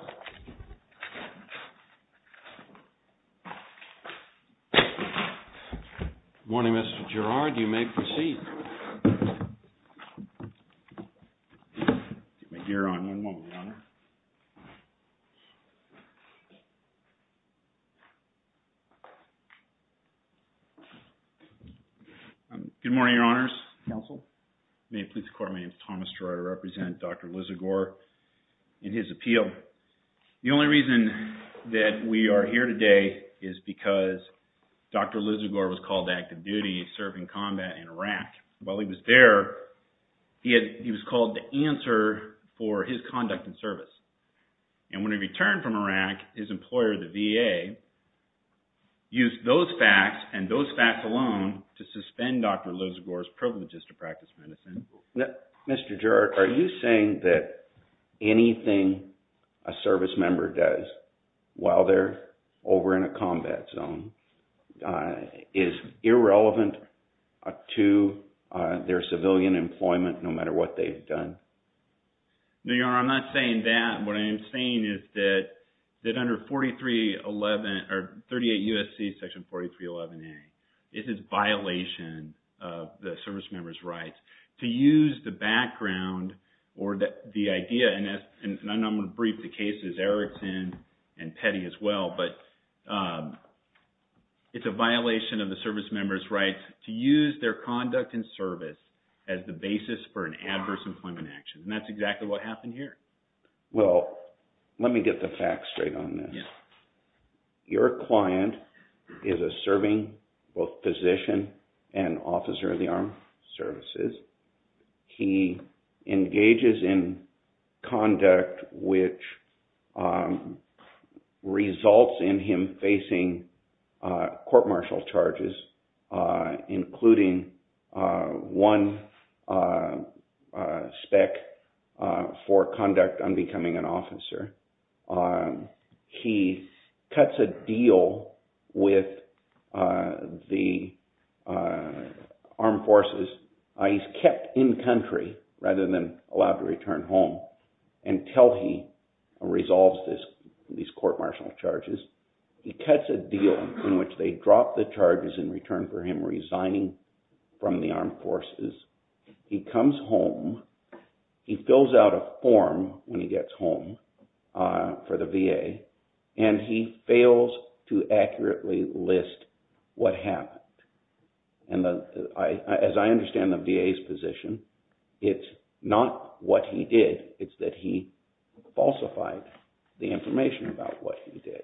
Good morning, Mr. Gerrard. You may proceed. Good morning, Your Honors. May it please the Court, my name is Thomas Gerrard. I represent Dr. Lissagor in his appeal. The only reason that we are here today is because Dr. Lissagor was called to active duty serving combat in Iraq. While he was there, he was called to answer for his conduct and service. And when he returned from Iraq, his employer, the VA, used those facts and those facts alone to suspend Dr. Lissagor's privileges to practice medicine. Mr. Gerrard, are you saying that anything a service member does while they're over in a combat zone is irrelevant to their civilian employment, no matter what they've done? No, Your Honor, I'm not saying that. What I am saying is that under 4311, or 38 U.S.C. Section 4311A, it is a violation of the service member's rights to use the background or the idea, and I'm going to brief the cases, Erickson and Petty as well, but it's a violation of the service member's rights to use their conduct and service as the basis for an adverse employment action. And that's exactly what happened here. Well, let me get the facts straight on this. Your client is a serving both physician and officer of the armed services. He engages in conduct which results in him facing court martial charges, including one spec for conduct on becoming an officer. He cuts a deal with the armed forces. He's kept in country rather than allowed to return home until he resolves these court martial charges. He cuts a deal in which they drop the charges in return for him resigning from the armed forces. He comes home. He fills out a form when he gets home for the VA, and he fails to accurately list what happened. And as I understand the VA's position, it's not what he did. It's that he falsified the information about what he did.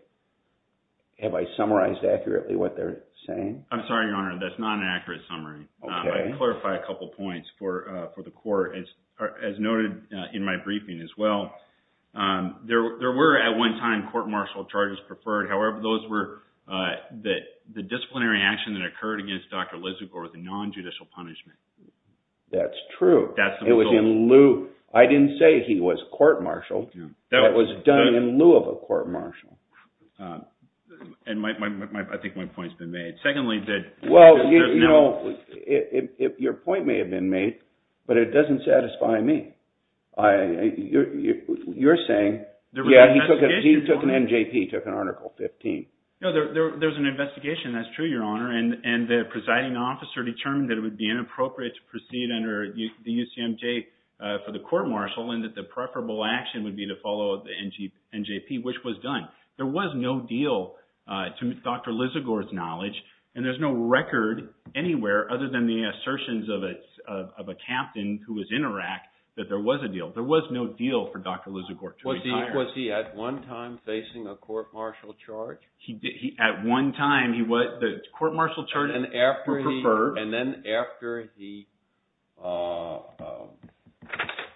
Have I summarized accurately what they're saying? I'm sorry, Your Honor. That's not an accurate summary. I can clarify a couple points for the court. As noted in my briefing as well, there were at one time court martial charges preferred. However, those were the disciplinary action that occurred against Dr. Lizagor with a non-judicial punishment. That's true. I didn't say he was court martialed. It was done in lieu of a court martial. I think my point's been made. Secondly, there's no... Well, your point may have been made, but it doesn't satisfy me. You're saying... He took an NJP, took an Article 15. No, there was an investigation. That's true, Your Honor. And the presiding officer determined that it would be inappropriate to proceed under the UCMJ for the court martial and that the preferable action would be to follow the NJP, which was done. There was no deal to Dr. Lizagor's knowledge and there's no record anywhere other than the assertions of a captain who was in Iraq that there was a deal. There was no deal for Dr. Lizagor to retire. Was he at one time facing a court martial charge? At one time, the court martial charges were preferred. And then after he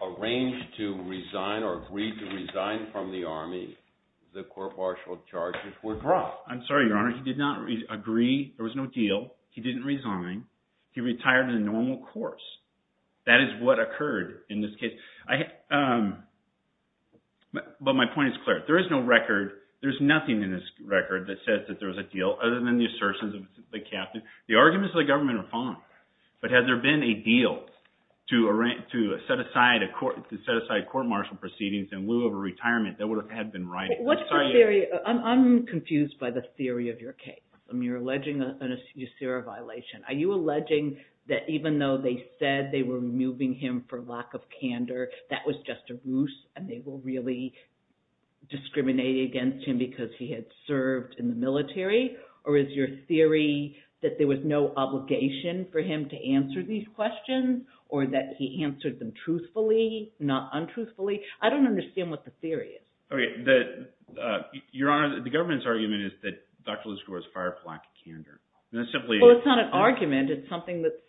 arranged to resign or agreed to resign from the army, the court martial charges were dropped. I'm sorry, Your Honor. He did not agree. There was no deal. He didn't resign. He retired in a normal course. That is what occurred in this case. But my point is clear. There is no record. There's nothing in this record that says that there was a deal other than the assertions of the captain. The arguments of the government are fine. But had there been a deal to set aside court martial proceedings in lieu of a retirement, that would have been right. I'm sorry, Your Honor. I'm confused by the theory of your case. You're alleging a USERA violation. Are you alleging that even though they said they were moving him for lack of candor, that was just a ruse, and they were really discriminating against him because he had served in the military? Or is your theory that there was no obligation for him to answer these questions, or that he answered them truthfully, not untruthfully? I don't understand what the theory is. Okay. Your Honor, the government's argument is that Dr. Lizagor was fired for lack of candor. And that's simply— It's something that's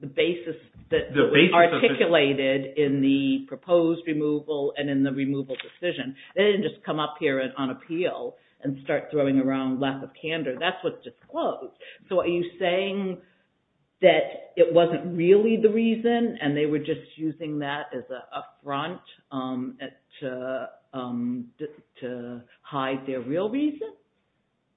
the basis that was articulated in the proposed removal and in the removal decision. They didn't just come up here on appeal and start throwing around lack of candor. That's what's disclosed. So are you saying that it wasn't really the reason, and they were just using that as a front to hide their real reason?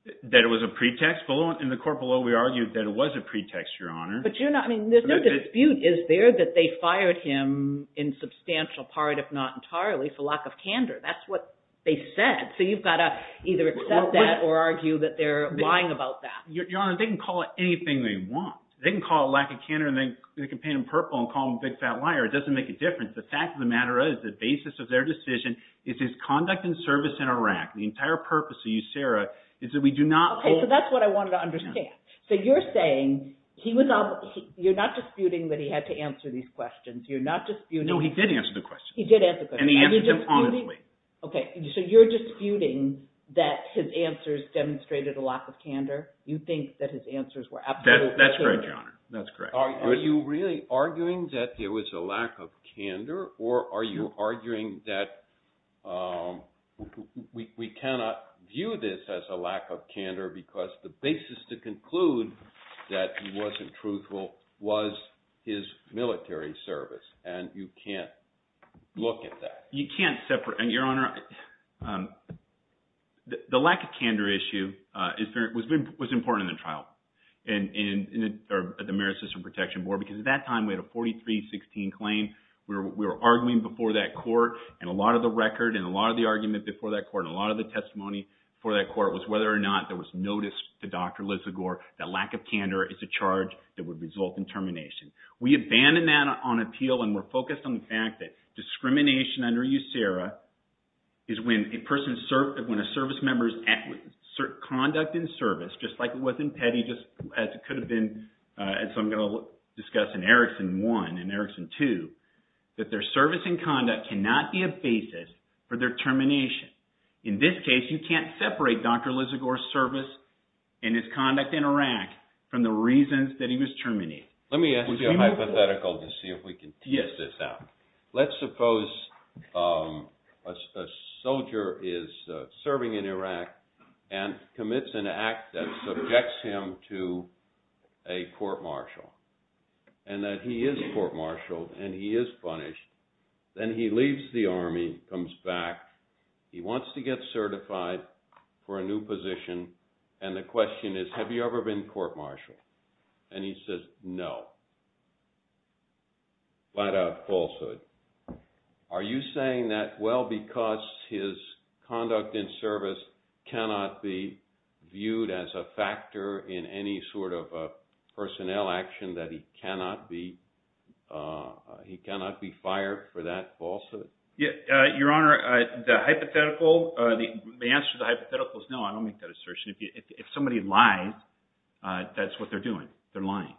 That it was a pretext? In the court below, we argued that it was a pretext, Your Honor. But you're not—I mean, there's no dispute. Is there that they fired him in substantial part, if not entirely, for lack of candor? That's what they said. So you've got to either accept that or argue that they're lying about that. Your Honor, they can call it anything they want. They can call it lack of candor, and they can paint him purple and call him a big fat liar. It doesn't make a difference. The fact of the matter is the basis of their decision is his conduct and service in Iraq. The entire purpose of USERA is that we do not— Okay. So that's what I wanted to understand. So you're saying he was—you're not disputing that he had to answer these questions. You're not disputing— No, he did answer the questions. He did answer the questions. And he answered them honestly. Okay. So you're disputing that his answers demonstrated a lack of candor? You think that his answers were absolutely true? That's correct, Your Honor. That's correct. Are you really arguing that there was a lack of candor, or are you arguing that we cannot view this as a lack of candor because the basis to conclude that he wasn't truthful was his military service, and you can't look at that? You can't separate—Your Honor, the lack of candor issue was important in the trial, or the Marist System Protection Board, because at that time, we had a 43-16 claim. We were arguing before that court, and a lot of the record, and a lot of the argument before that court, and a lot of the testimony before that court was whether or not there was notice to Dr. Lizagore that lack of candor is a charge that would result in termination. We abandoned that on appeal, and we're focused on the fact that discrimination under USERA is when a person's—when a service member's conduct and service, just like it was in Petty, as it could have been, as I'm going to discuss in Erickson 1 and Erickson 2, that their service and conduct cannot be a basis for their termination. In this case, you can't separate Dr. Lizagore's service and his conduct in Iraq from the reasons that he was terminated. Let me ask you a hypothetical to see if we can tease this out. Let's suppose a soldier is serving in Iraq and commits an act that would result in him going to a court-martial, and that he is court-martialed and he is punished. Then he leaves the Army, comes back, he wants to get certified for a new position, and the question is, have you ever been court-martialed? And he says, no. Flat-out falsehood. Are you saying that, well, because his conduct and service cannot be a factor in any sort of personnel action, that he cannot be fired for that falsehood? Yeah, Your Honor, the hypothetical—the answer to the hypothetical is no. I don't make that assertion. If somebody lies, that's what they're doing. They're lying.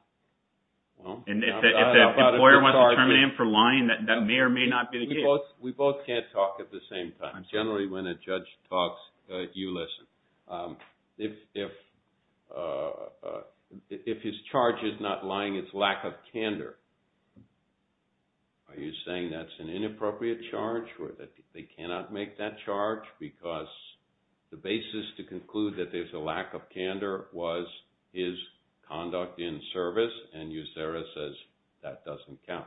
And if the employer wants to terminate him for lying, that may or may not be the case. We both can't talk at the same time. Generally, when a judge talks, you listen. If his charge is not lying, it's lack of candor. Are you saying that's an inappropriate charge, or that they cannot make that charge because the basis to conclude that there's a lack of candor was his conduct in service, and you, Sarah, says that doesn't count?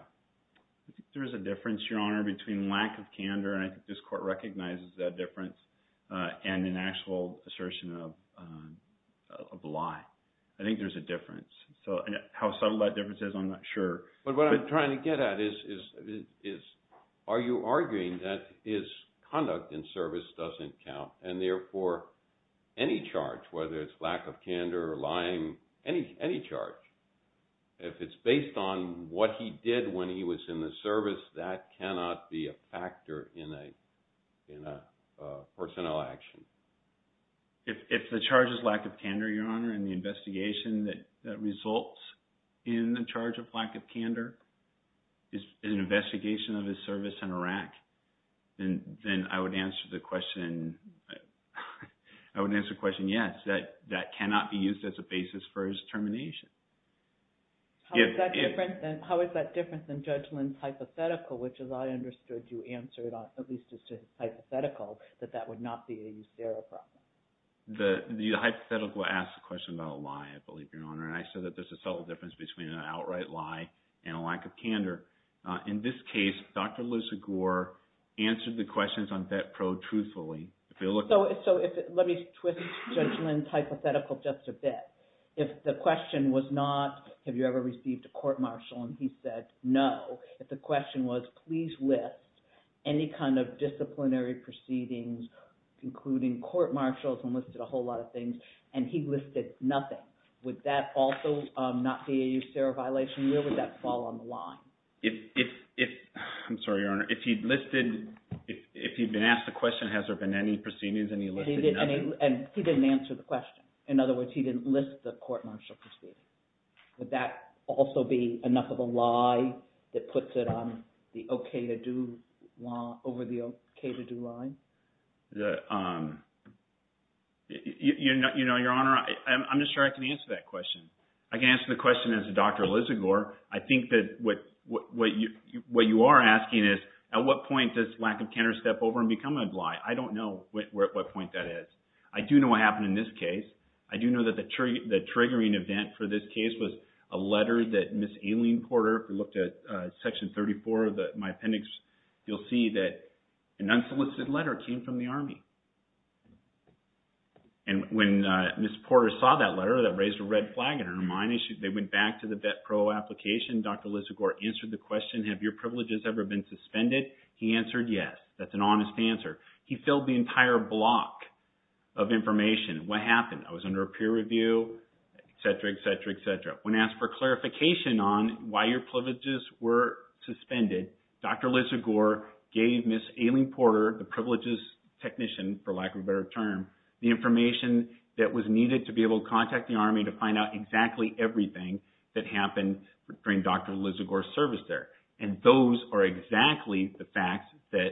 There's a difference, Your Honor, between lack of candor—and I think this Court recognizes that difference—and an actual assertion of a lie. I think there's a difference. So how subtle that difference is, I'm not sure. But what I'm trying to get at is, are you arguing that his conduct in service doesn't count, and therefore any charge, whether it's lack of candor, lying, any charge, if it's based on what he did when he was in the service, that cannot be a factor in a personnel action? If the charge is lack of candor, Your Honor, and the investigation that results in the charge of lack of candor is an investigation of his service in Iraq, then I would answer the question yes, that cannot be used as a basis for his termination. How is that different than Judge Lynn's hypothetical, which, as I understood, you answered, at least as to hypothetical, that that would not be a use-error problem? The hypothetical asks a question about a lie, I believe, Your Honor, and I said that there's a subtle difference between an outright lie and a lack of candor. In this case, Dr. Liz Agour answered the questions on Bet-Pro truthfully. So let me twist Judge Lynn's hypothetical just a bit. If the question was not, have you ever received a court-martial, and he said no, if the question was, please list any kind of disciplinary proceedings, including court-martials, and listed a whole lot of things, and he listed nothing, would that also not be a use-error violation? Where would that fall on the list of court-martial proceedings? He didn't answer the question. In other words, he didn't list the court-martial proceedings. Would that also be enough of a lie that puts it on the okay-to-do law over the okay-to-do line? Your Honor, I'm not sure I can answer that question. I can answer the question as a Dr. Liz Agour. I think that what you are asking is, at what point does lack of candor step over and become a lie? I don't know what point that is. I do know what happened in this case. I do know that the triggering event for this case was a letter that Ms. Aileen Porter looked at Section 34 of my appendix. You'll see that an unsolicited letter came from the Army. When Ms. Porter saw that letter that raised a red flag in her mind, they went back to the Bet-Pro application. Dr. Liz Agour answered the question, have your That's an honest answer. He filled the entire block of information. What happened? I was under a peer review, etc., etc., etc. When asked for clarification on why your privileges were suspended, Dr. Liz Agour gave Ms. Aileen Porter, the privileges technician, for lack of a better term, the information that was needed to be able to contact the Army to find out exactly everything that happened during Dr. Liz Agour's service there. Those are exactly the facts that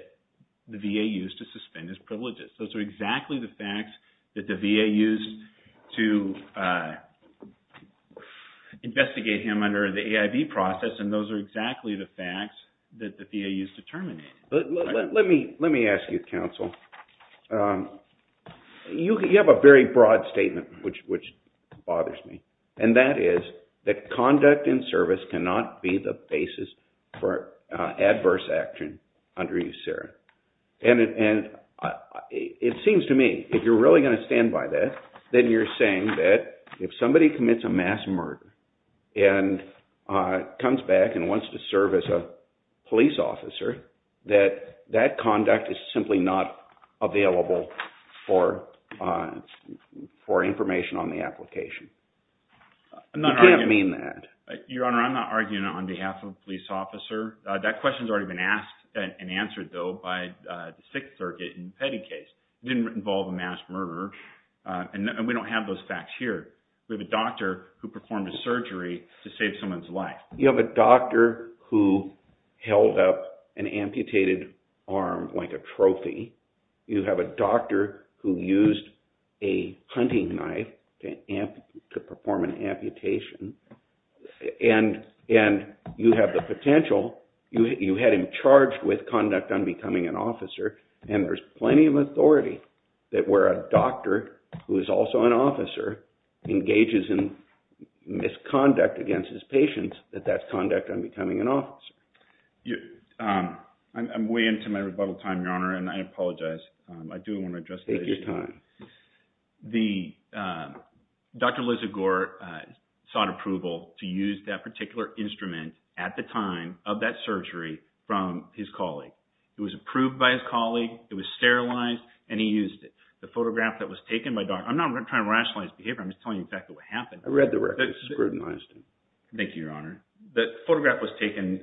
the VA used to suspend his privileges. Those are exactly the facts that the VA used to investigate him under the AIB process. Those are exactly the facts that the VA used to terminate. Let me ask you, counsel. You have a very broad statement, which bothers me. That is, conduct and service cannot be the basis for adverse action under USERA. It seems to me, if you're really going to stand by that, then you're saying that if somebody commits a mass murder and comes back and wants to serve as a police officer, that that conduct is simply not Your Honor, I'm not arguing that on behalf of a police officer. That question has already been asked and answered, though, by the Sixth Circuit in the Petty case. It didn't involve a mass murderer, and we don't have those facts here. We have a doctor who performed a surgery to save someone's life. You have a doctor who held up an amputated arm like a trophy. You have a doctor who used a hunting knife to perform an amputation, and you have the potential. You had him charged with conduct unbecoming an officer, and there's plenty of authority that where a doctor who is also an officer engages in misconduct against his patients, that that's conduct unbecoming an officer. I'm way into my rebuttal time, Your Honor, and I apologize. I do want to address this. Take your time. Dr. Lizzy Gore sought approval to use that particular instrument at the time of that surgery from his colleague. It was approved by his colleague. It was sterilized, and he used the photograph that was taken by Dr. I'm not trying to rationalize behavior. I'm just telling you exactly what happened. I read the record. It's scrutinized. Thank you, Your Honor. The photograph was taken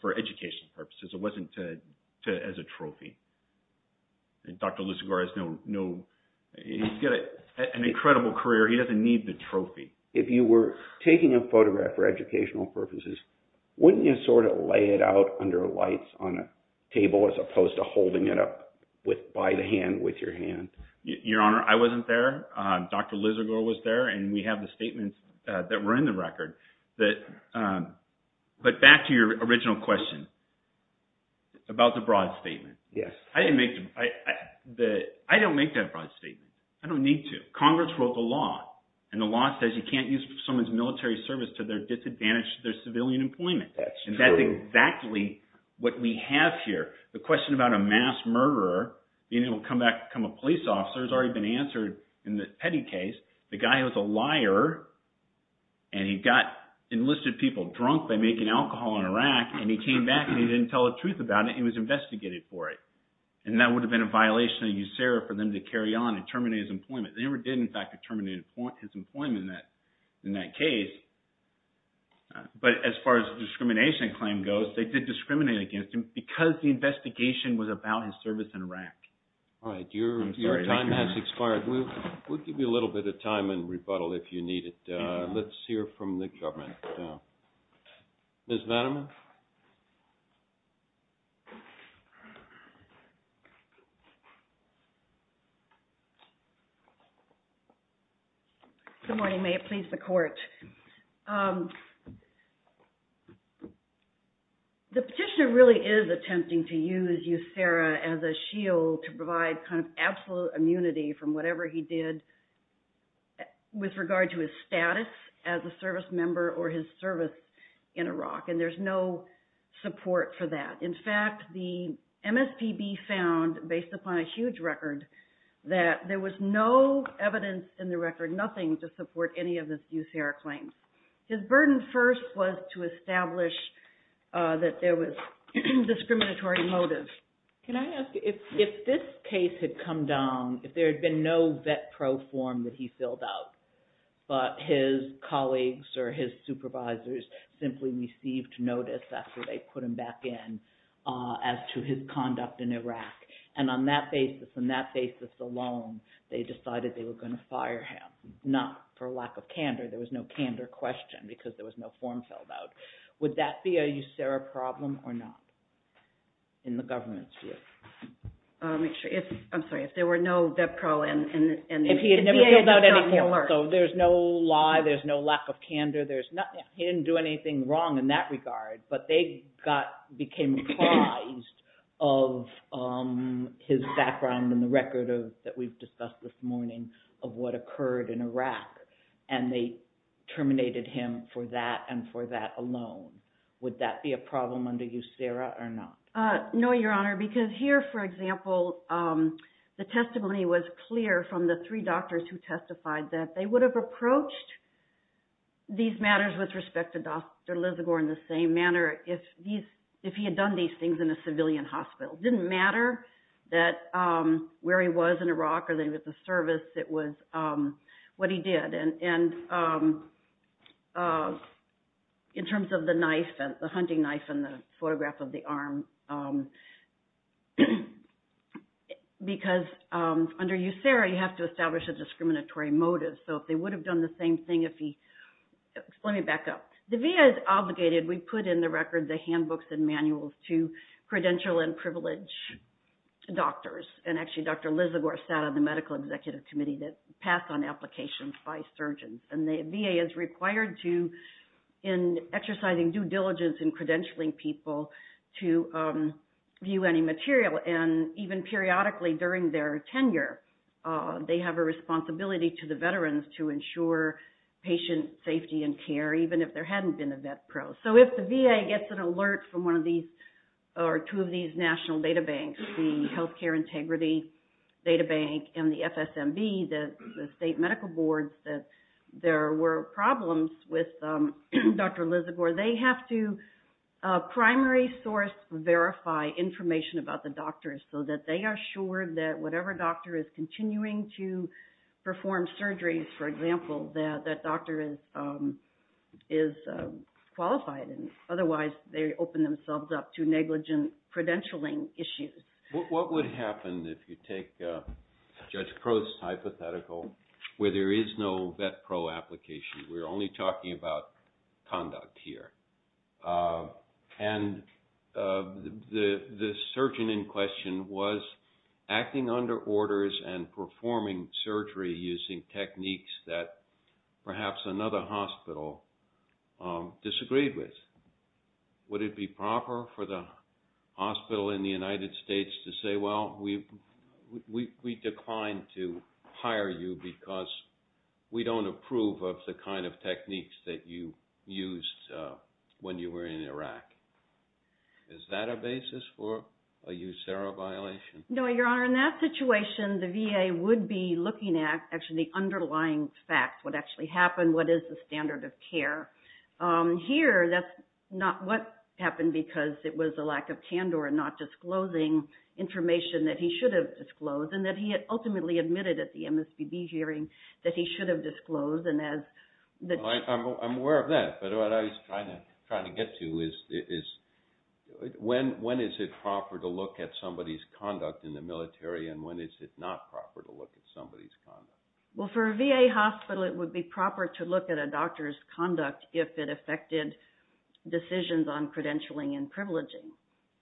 for educational purposes. It wasn't as a trophy. Dr. Lizzy Gore has no... He's got an incredible career. He doesn't need the trophy. If you were taking a photograph for educational purposes, wouldn't you sort of lay it out under lights on a table as opposed to holding it up by the hand with your hand? Your Honor, I wasn't there. Dr. Lizzy Gore was there, and we have the statements that were in the record, but back to your original question about the broad statement. I don't make that broad statement. I don't need to. Congress wrote the law, and the law says you can't use someone's military service to their disadvantage to their civilian employment. That's true. That's exactly what we have here. The question about a mass murderer being able to become a and he got enlisted people drunk by making alcohol in Iraq, and he came back and he didn't tell the truth about it. He was investigated for it, and that would have been a violation of USERA for them to carry on and terminate his employment. They never did, in fact, terminate his employment in that case, but as far as the discrimination claim goes, they did discriminate against him because the investigation was about his service in Iraq. All right. Your time has expired. We'll give you a little bit of time and rebuttal if you need it. Let's hear from the government now. Ms. Vanneman? Good morning. May it please the court. The petitioner really is attempting to use USERA as a shield to provide kind of absolute immunity from whatever he did with regard to his status as a service member or his service in Iraq, and there's no support for that. In fact, the MSPB found, based upon a huge record, that there was no evidence in the record, nothing to support any of the USERA claims. His burden first was to establish that there was discriminatory motive. Can I ask, if this case had come down, if there had been no vet pro form that he filled out, but his colleagues or his supervisors simply received notice after they put him back in as to his conduct in Iraq, and on that basis, on that basis alone, they decided they were going to fire him, not for lack of candor. There was no candor question because there was no form filled out. Would that be a USERA problem or not, in the government's view? I'm sorry, if there were no vet pro and- If he had never filled out anything, so there's no lie, there's no lack of candor, he didn't do anything wrong in that regard, but they became apprised of his background in the record that we've discussed this morning of what occurred in Iraq, and they terminated him for that and for that alone. Would that be a problem under USERA or not? No, Your Honor, because here, for example, the testimony was clear from the three doctors who testified that they would have approached these matters with respect to Dr. Lizagore in the same manner if he had done these things in a civilian hospital. It didn't matter where he was in Iraq or that he was at the service, it was what he did. In terms of the knife, the hunting knife and the photograph of the arm, because under USERA, you have to establish a discriminatory motive, so if they would have done the same thing if he- Let me back up. The VA is obligated, we put in the records the handbooks and manuals to credential and privilege doctors, and actually Dr. Lizagore sat on the medical executive committee that passed on applications by surgeons, and the VA is required to, in exercising due diligence in credentialing people to view any material, and even periodically during their tenure, they have a responsibility to the VA. So if the VA gets an alert from one of these or two of these national data banks, the Healthcare Integrity Data Bank and the FSMB, the state medical boards, that there were problems with Dr. Lizagore, they have to primary source verify information about the doctors so that they are assured that whatever doctor is continuing to perform surgeries, for example, that that doctor is qualified. Otherwise, they open themselves up to negligent credentialing issues. What would happen if you take Judge Crow's hypothetical, where there is no vet pro application? We're only talking about conduct here. And the surgeon in question was acting under orders and performing surgery using techniques that perhaps another hospital disagreed with. Would it be proper for the hospital in the United States to say, well, we declined to hire you because we don't approve of the kind of techniques that you used when you were in Iraq? Is that a basis for a USERRA violation? No, Your Honor. In that situation, the VA would be looking at actually the underlying facts, what actually happened, what is the standard of care. Here, that's not what happened because it was a lack of candor and not disclosing information that he should have disclosed, and that he had ultimately admitted at the MSPB hearing that he should have disclosed. Well, I'm aware of that, but what I was trying to get to is, when is it proper to look at somebody's conduct in the military, and when is it not proper to look at somebody's conduct? Well, for a VA hospital, it would be proper to look at a doctor's conduct if it affected decisions on credentialing and privileging.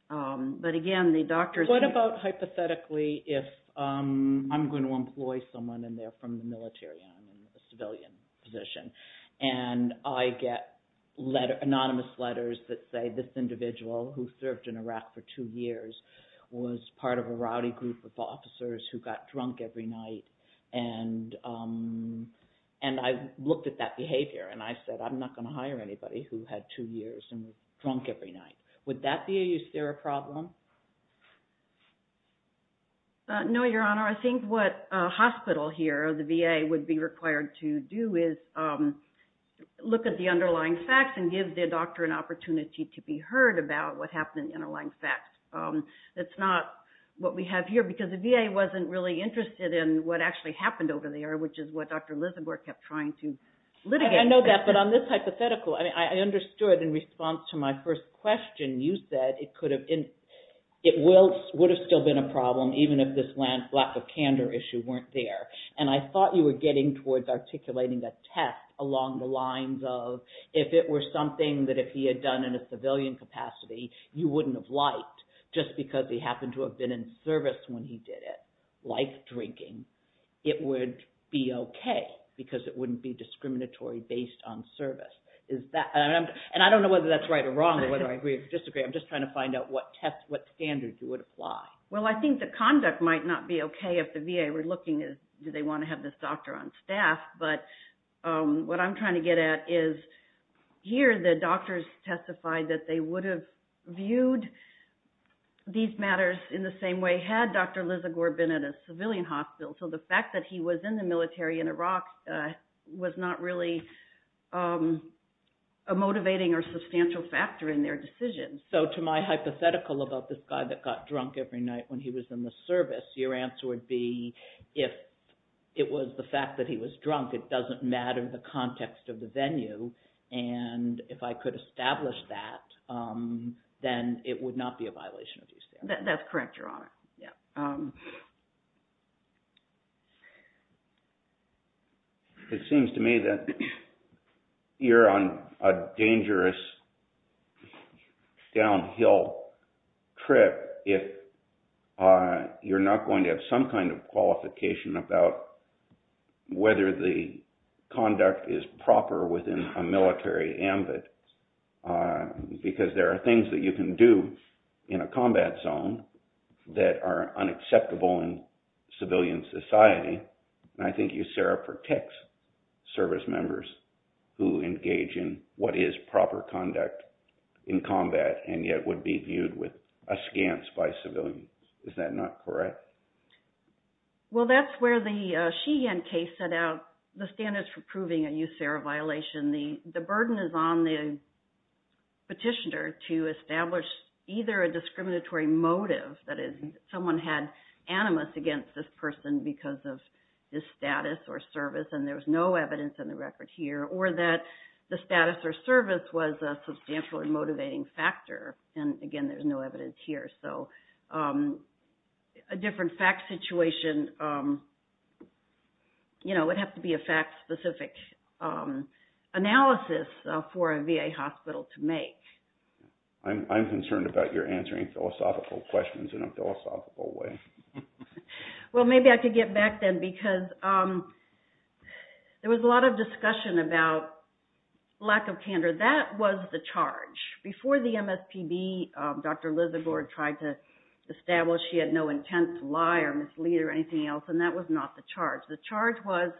But again, the doctors... What about hypothetically if I'm going to employ someone, and they're from the military, and a civilian position, and I get anonymous letters that say, this individual who served in Iraq for two years was part of a rowdy group of officers who got drunk every night, and I looked at that behavior, and I said, I'm not going to hire anybody who had two years and was drunk every night. Would that be a USERRA problem? No, Your Honor. I think what a hospital here, or the VA, would be required to do is look at the underlying facts, and give their doctor an opportunity to be heard about what happened in the underlying facts. That's not what we have here, because the VA wasn't really interested in what actually happened over there, which is what Dr. Lisenborg kept trying to litigate. I know that, but on this hypothetical, I understood in response to my first question, you said it would have still been a problem, even if this lack of candor issue weren't there. And I thought you were getting towards articulating a test along the lines of, if it were something that if he had done in a civilian capacity, you wouldn't have liked, just because he happened to have been in service when he did it, like drinking, it would be okay, because it wouldn't be discriminatory based on service. And I don't know whether that's right or wrong, or whether I agree or disagree. I'm just trying to find out what standards it would apply. Well, I think the conduct might not be okay if the VA were looking at, do they want to have this doctor on staff? But what I'm trying to get at is, here, the doctors testified that they would have viewed these matters in the same way had Dr. Lisenborg been at a civilian hospital. So the fact that he was in the military in Iraq was not really a motivating or substantial factor in their decision. So to my hypothetical about this guy that got drunk every night when he was in the service, your answer would be, if it was the fact that he was drunk, it doesn't matter the context of the venue. And if I could establish that, then it would not be a violation of these standards. That's correct, Your Honor. It seems to me that you're on a dangerous downhill trip if you're not going to have some kind of qualification about whether the conduct is proper within a military ambit, because there are things that you can do in a combat zone that are unacceptable in civilian society. And I think USARA protects service members who engage in what is proper conduct in combat and yet would be viewed with askance by civilians. Is that not correct? Well, that's where the Sheehan case set out the standards for proving a USARA violation. The burden is on the petitioner to establish either a discriminatory motive, that is, someone had animus against this person because of this status or service, and there was no evidence in the record here, or that the status or service was a substantial and motivating factor. And again, there's no evidence here. So a different fact situation would have to be a fact-specific analysis for a VA hospital to I'm concerned about your answering philosophical questions in a philosophical way. Well, maybe I could get back then, because there was a lot of discussion about lack of candor. That was the charge. Before the MSPB, Dr. Lizzagore tried to establish he had no intense lie or mislead or anything else, and that was not the charge. The charge was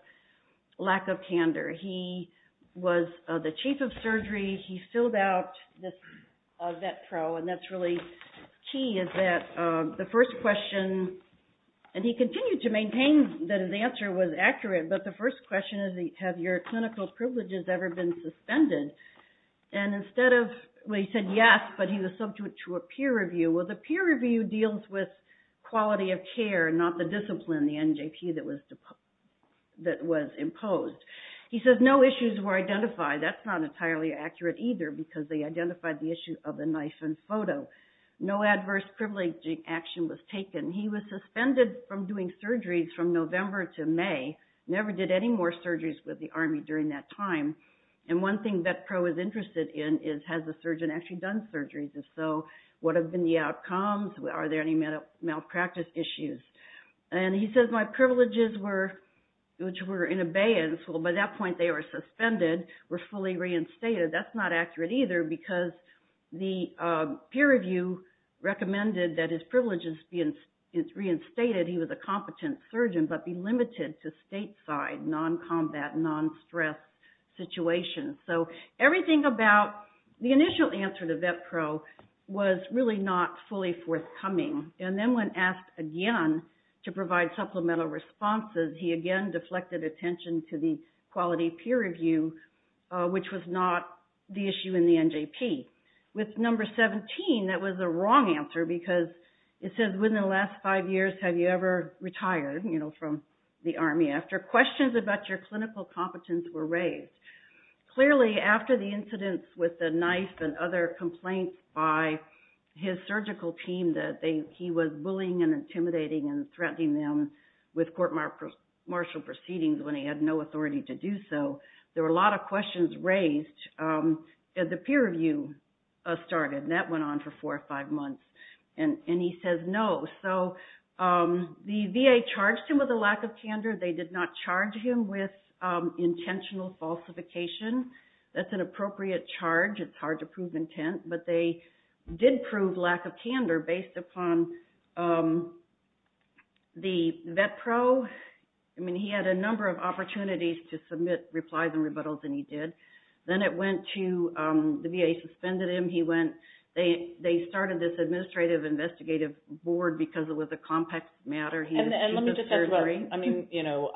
lack of candor. He was the chief of surgery. He filled out this vet pro, and that's really key, is that the first question, and he continued to maintain that his answer was accurate, but the first question is, have your clinical privileges ever been suspended? And instead of, well, he said yes, but he was subject to a peer review. Well, the peer review deals with quality of care, not the discipline, the NJP that was imposed. He says no issues were identified. That's not entirely accurate either, because they identified the issue of a knife and photo. No adverse privileging action was taken. He was suspended from doing surgeries from November to May, never did any more surgeries with the Army during that time. And one thing vet pro is interested in is, has the surgeon actually done surgeries? And so, what have been the outcomes? Are there any malpractice issues? And he says, my privileges were, which were in abeyance. Well, by that point, they were suspended, were fully reinstated. That's not accurate either, because the peer review recommended that his privileges be reinstated. He was a competent surgeon, but be limited to stateside, non-combat, non-stress situations. So everything about the initial answer to vet pro was really not fully forthcoming. And then when asked again to provide supplemental responses, he again deflected attention to the quality peer review, which was not the issue in the NJP. With number 17, that was the wrong answer, because it says, within the last five years, have you ever retired, you know, from the Army after questions about your clinical competence were raised? Clearly, after the he was bullying and intimidating and threatening them with court martial proceedings when he had no authority to do so. There were a lot of questions raised as the peer review started, and that went on for four or five months. And he says, no. So the VA charged him with a lack of candor. They did not charge him with intentional falsification. That's an appropriate charge. It's a proven intent. But they did prove lack of candor based upon the vet pro. I mean, he had a number of opportunities to submit replies and rebuttals, and he did. Then it went to, the VA suspended him. He went, they started this administrative investigative board because it was a complex matter. And let me just add to that. I mean, you know,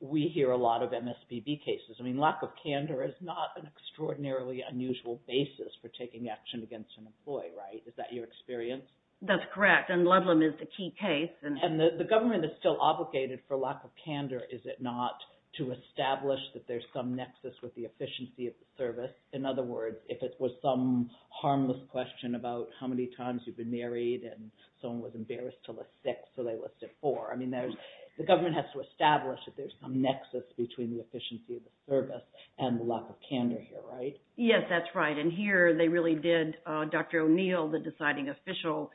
we hear a lot of MSPB cases. I mean, lack of candor is not an extraordinarily unusual basis for taking action against an employee, right? Is that your experience? That's correct. And Ludlam is the key case. And the government is still obligated for lack of candor, is it not, to establish that there's some nexus with the efficiency of the service? In other words, if it was some harmless question about how many times you've been married and someone was embarrassed to list six, so they listed four. I mean, the government has to establish that there's some nexus between the efficiency of the service and the lack of candor here, right? Yes, that's right. And here they really did, Dr. O'Neill, the deciding official,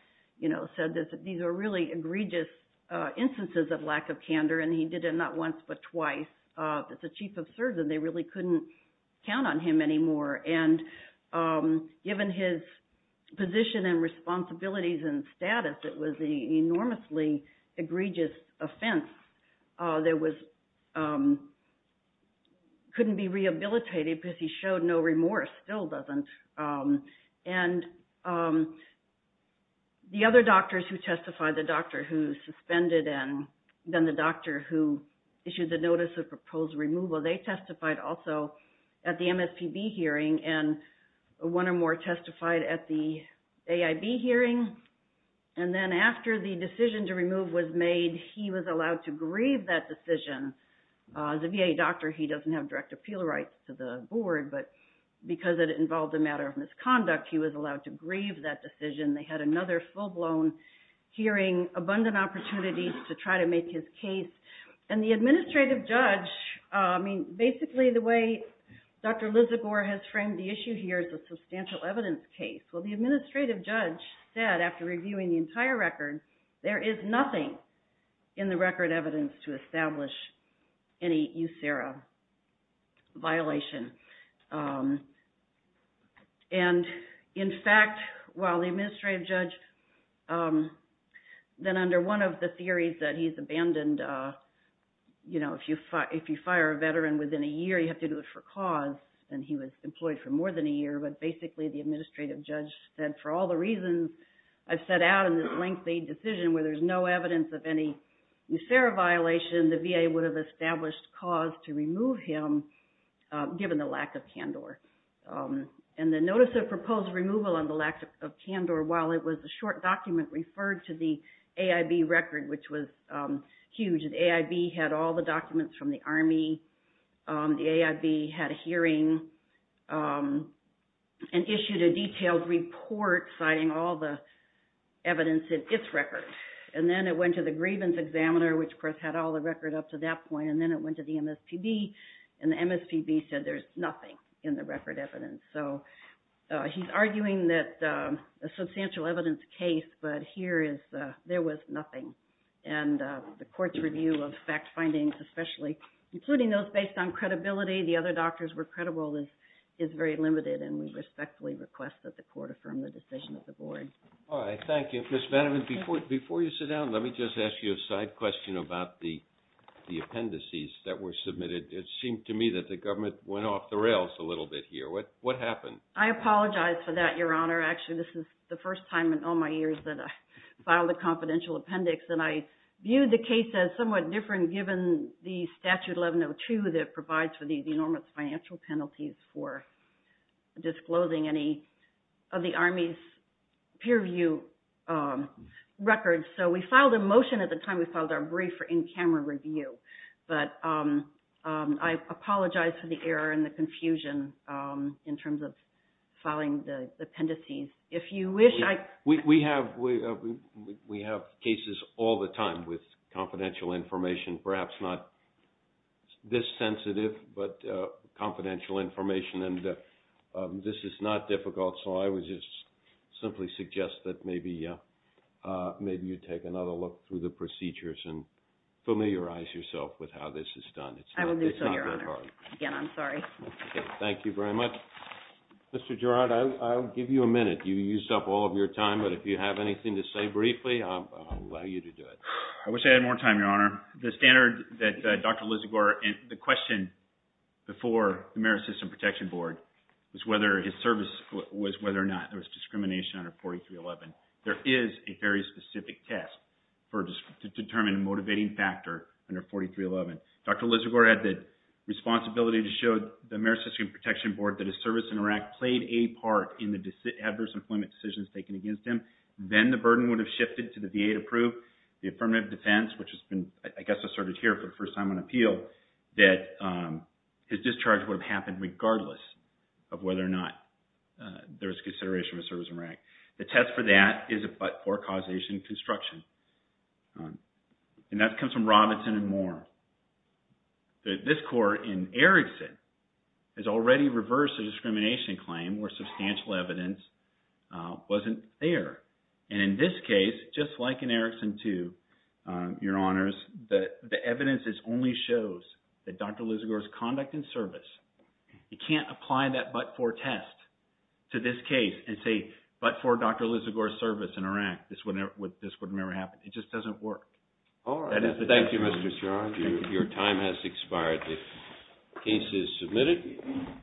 said that these are really egregious instances of lack of candor. And he did it not once, but twice. As the chief of surgeon, they really couldn't count on him anymore. And given his position and responsibilities and status, it was the enormously egregious offense that couldn't be rehabilitated because he showed no remorse, still doesn't. And the other doctors who testified, the doctor who suspended and then the doctor who issued the one or more testified at the AIB hearing. And then after the decision to remove was made, he was allowed to grieve that decision. As a VA doctor, he doesn't have direct appeal rights to the board, but because it involved a matter of misconduct, he was allowed to grieve that decision. They had another full-blown hearing, abundant opportunities to try to make his case. And the administrative judge, I mean, basically the way Dr. Lizagore has framed the issue here is a substantial evidence case. Well, the administrative judge said, after reviewing the entire record, there is nothing in the record evidence to establish any USERA violation. And in fact, while the administrative judge, then under one of the theories that he's abandoned, you know, if you fire a veteran within a year, you have to do it for cause, and he was employed for more than a year. But basically, the administrative judge said, for all the reasons I've set out in this lengthy decision where there's no evidence of any USERA violation, the VA would have established cause to remove him given the lack of CANDOR. And the notice of proposed removal on the lack of CANDOR, while it was a short document, referred to the AIB, had all the documents from the Army, the AIB had a hearing, and issued a detailed report citing all the evidence in its record. And then it went to the grievance examiner, which of course had all the record up to that point, and then it went to the MSPB, and the MSPB said there's nothing in the record evidence. So he's arguing that a substantial evidence case, but here is, there was nothing. And the court's review of fact findings, especially including those based on credibility, the other doctors were credible, is very limited, and we respectfully request that the court affirm the decision of the board. All right, thank you. Ms. Benjamin, before you sit down, let me just ask you a side question about the appendices that were submitted. It seemed to me that the government went off the rails a little bit here. What happened? I apologize for that, Your Honor. Actually, this is the first time in all my years that I filed a confidential appendix, and I viewed the case as somewhat different given the Statute 1102 that provides for these enormous financial penalties for disclosing any of the Army's peer review records. So we filed a motion at the time we filed our brief for in-camera review, but I apologize for the error and the appendices. We have cases all the time with confidential information, perhaps not this sensitive, but confidential information. And this is not difficult, so I would just simply suggest that maybe you take another look through the procedures and familiarize yourself with how this is done. I will do so, Your Honor. Again, I'm sorry. Okay, thank you very much. Mr. Girard, I'll give you a minute. You used up all of your time, but if you have anything to say briefly, I'll allow you to do it. I wish I had more time, Your Honor. The standard that Dr. Lizagore and the question before the Marist System Protection Board was whether his service was whether or not there was discrimination under 4311. There is a very specific test to determine a motivating factor under 4311. Dr. Lizagore had the responsibility to show the service in Iraq played a part in the adverse employment decisions taken against him. Then the burden would have shifted to the VA to prove the affirmative defense, which has been, I guess, asserted here for the first time on appeal, that his discharge would have happened regardless of whether or not there was consideration of his service in Iraq. The test for that is a but-for causation construction. And that comes from Robinson and more. This court in Erickson has already reversed the discrimination claim where substantial evidence wasn't there. And in this case, just like in Erickson too, Your Honors, the evidence only shows that Dr. Lizagore's conduct and service, you can't apply that but-for test to this case and say, but-for Dr. Lizagore's service in Iraq, this would never happen. It just doesn't work. All right. Thank you, Mr. Charles. Your time has expired. The case is submitted.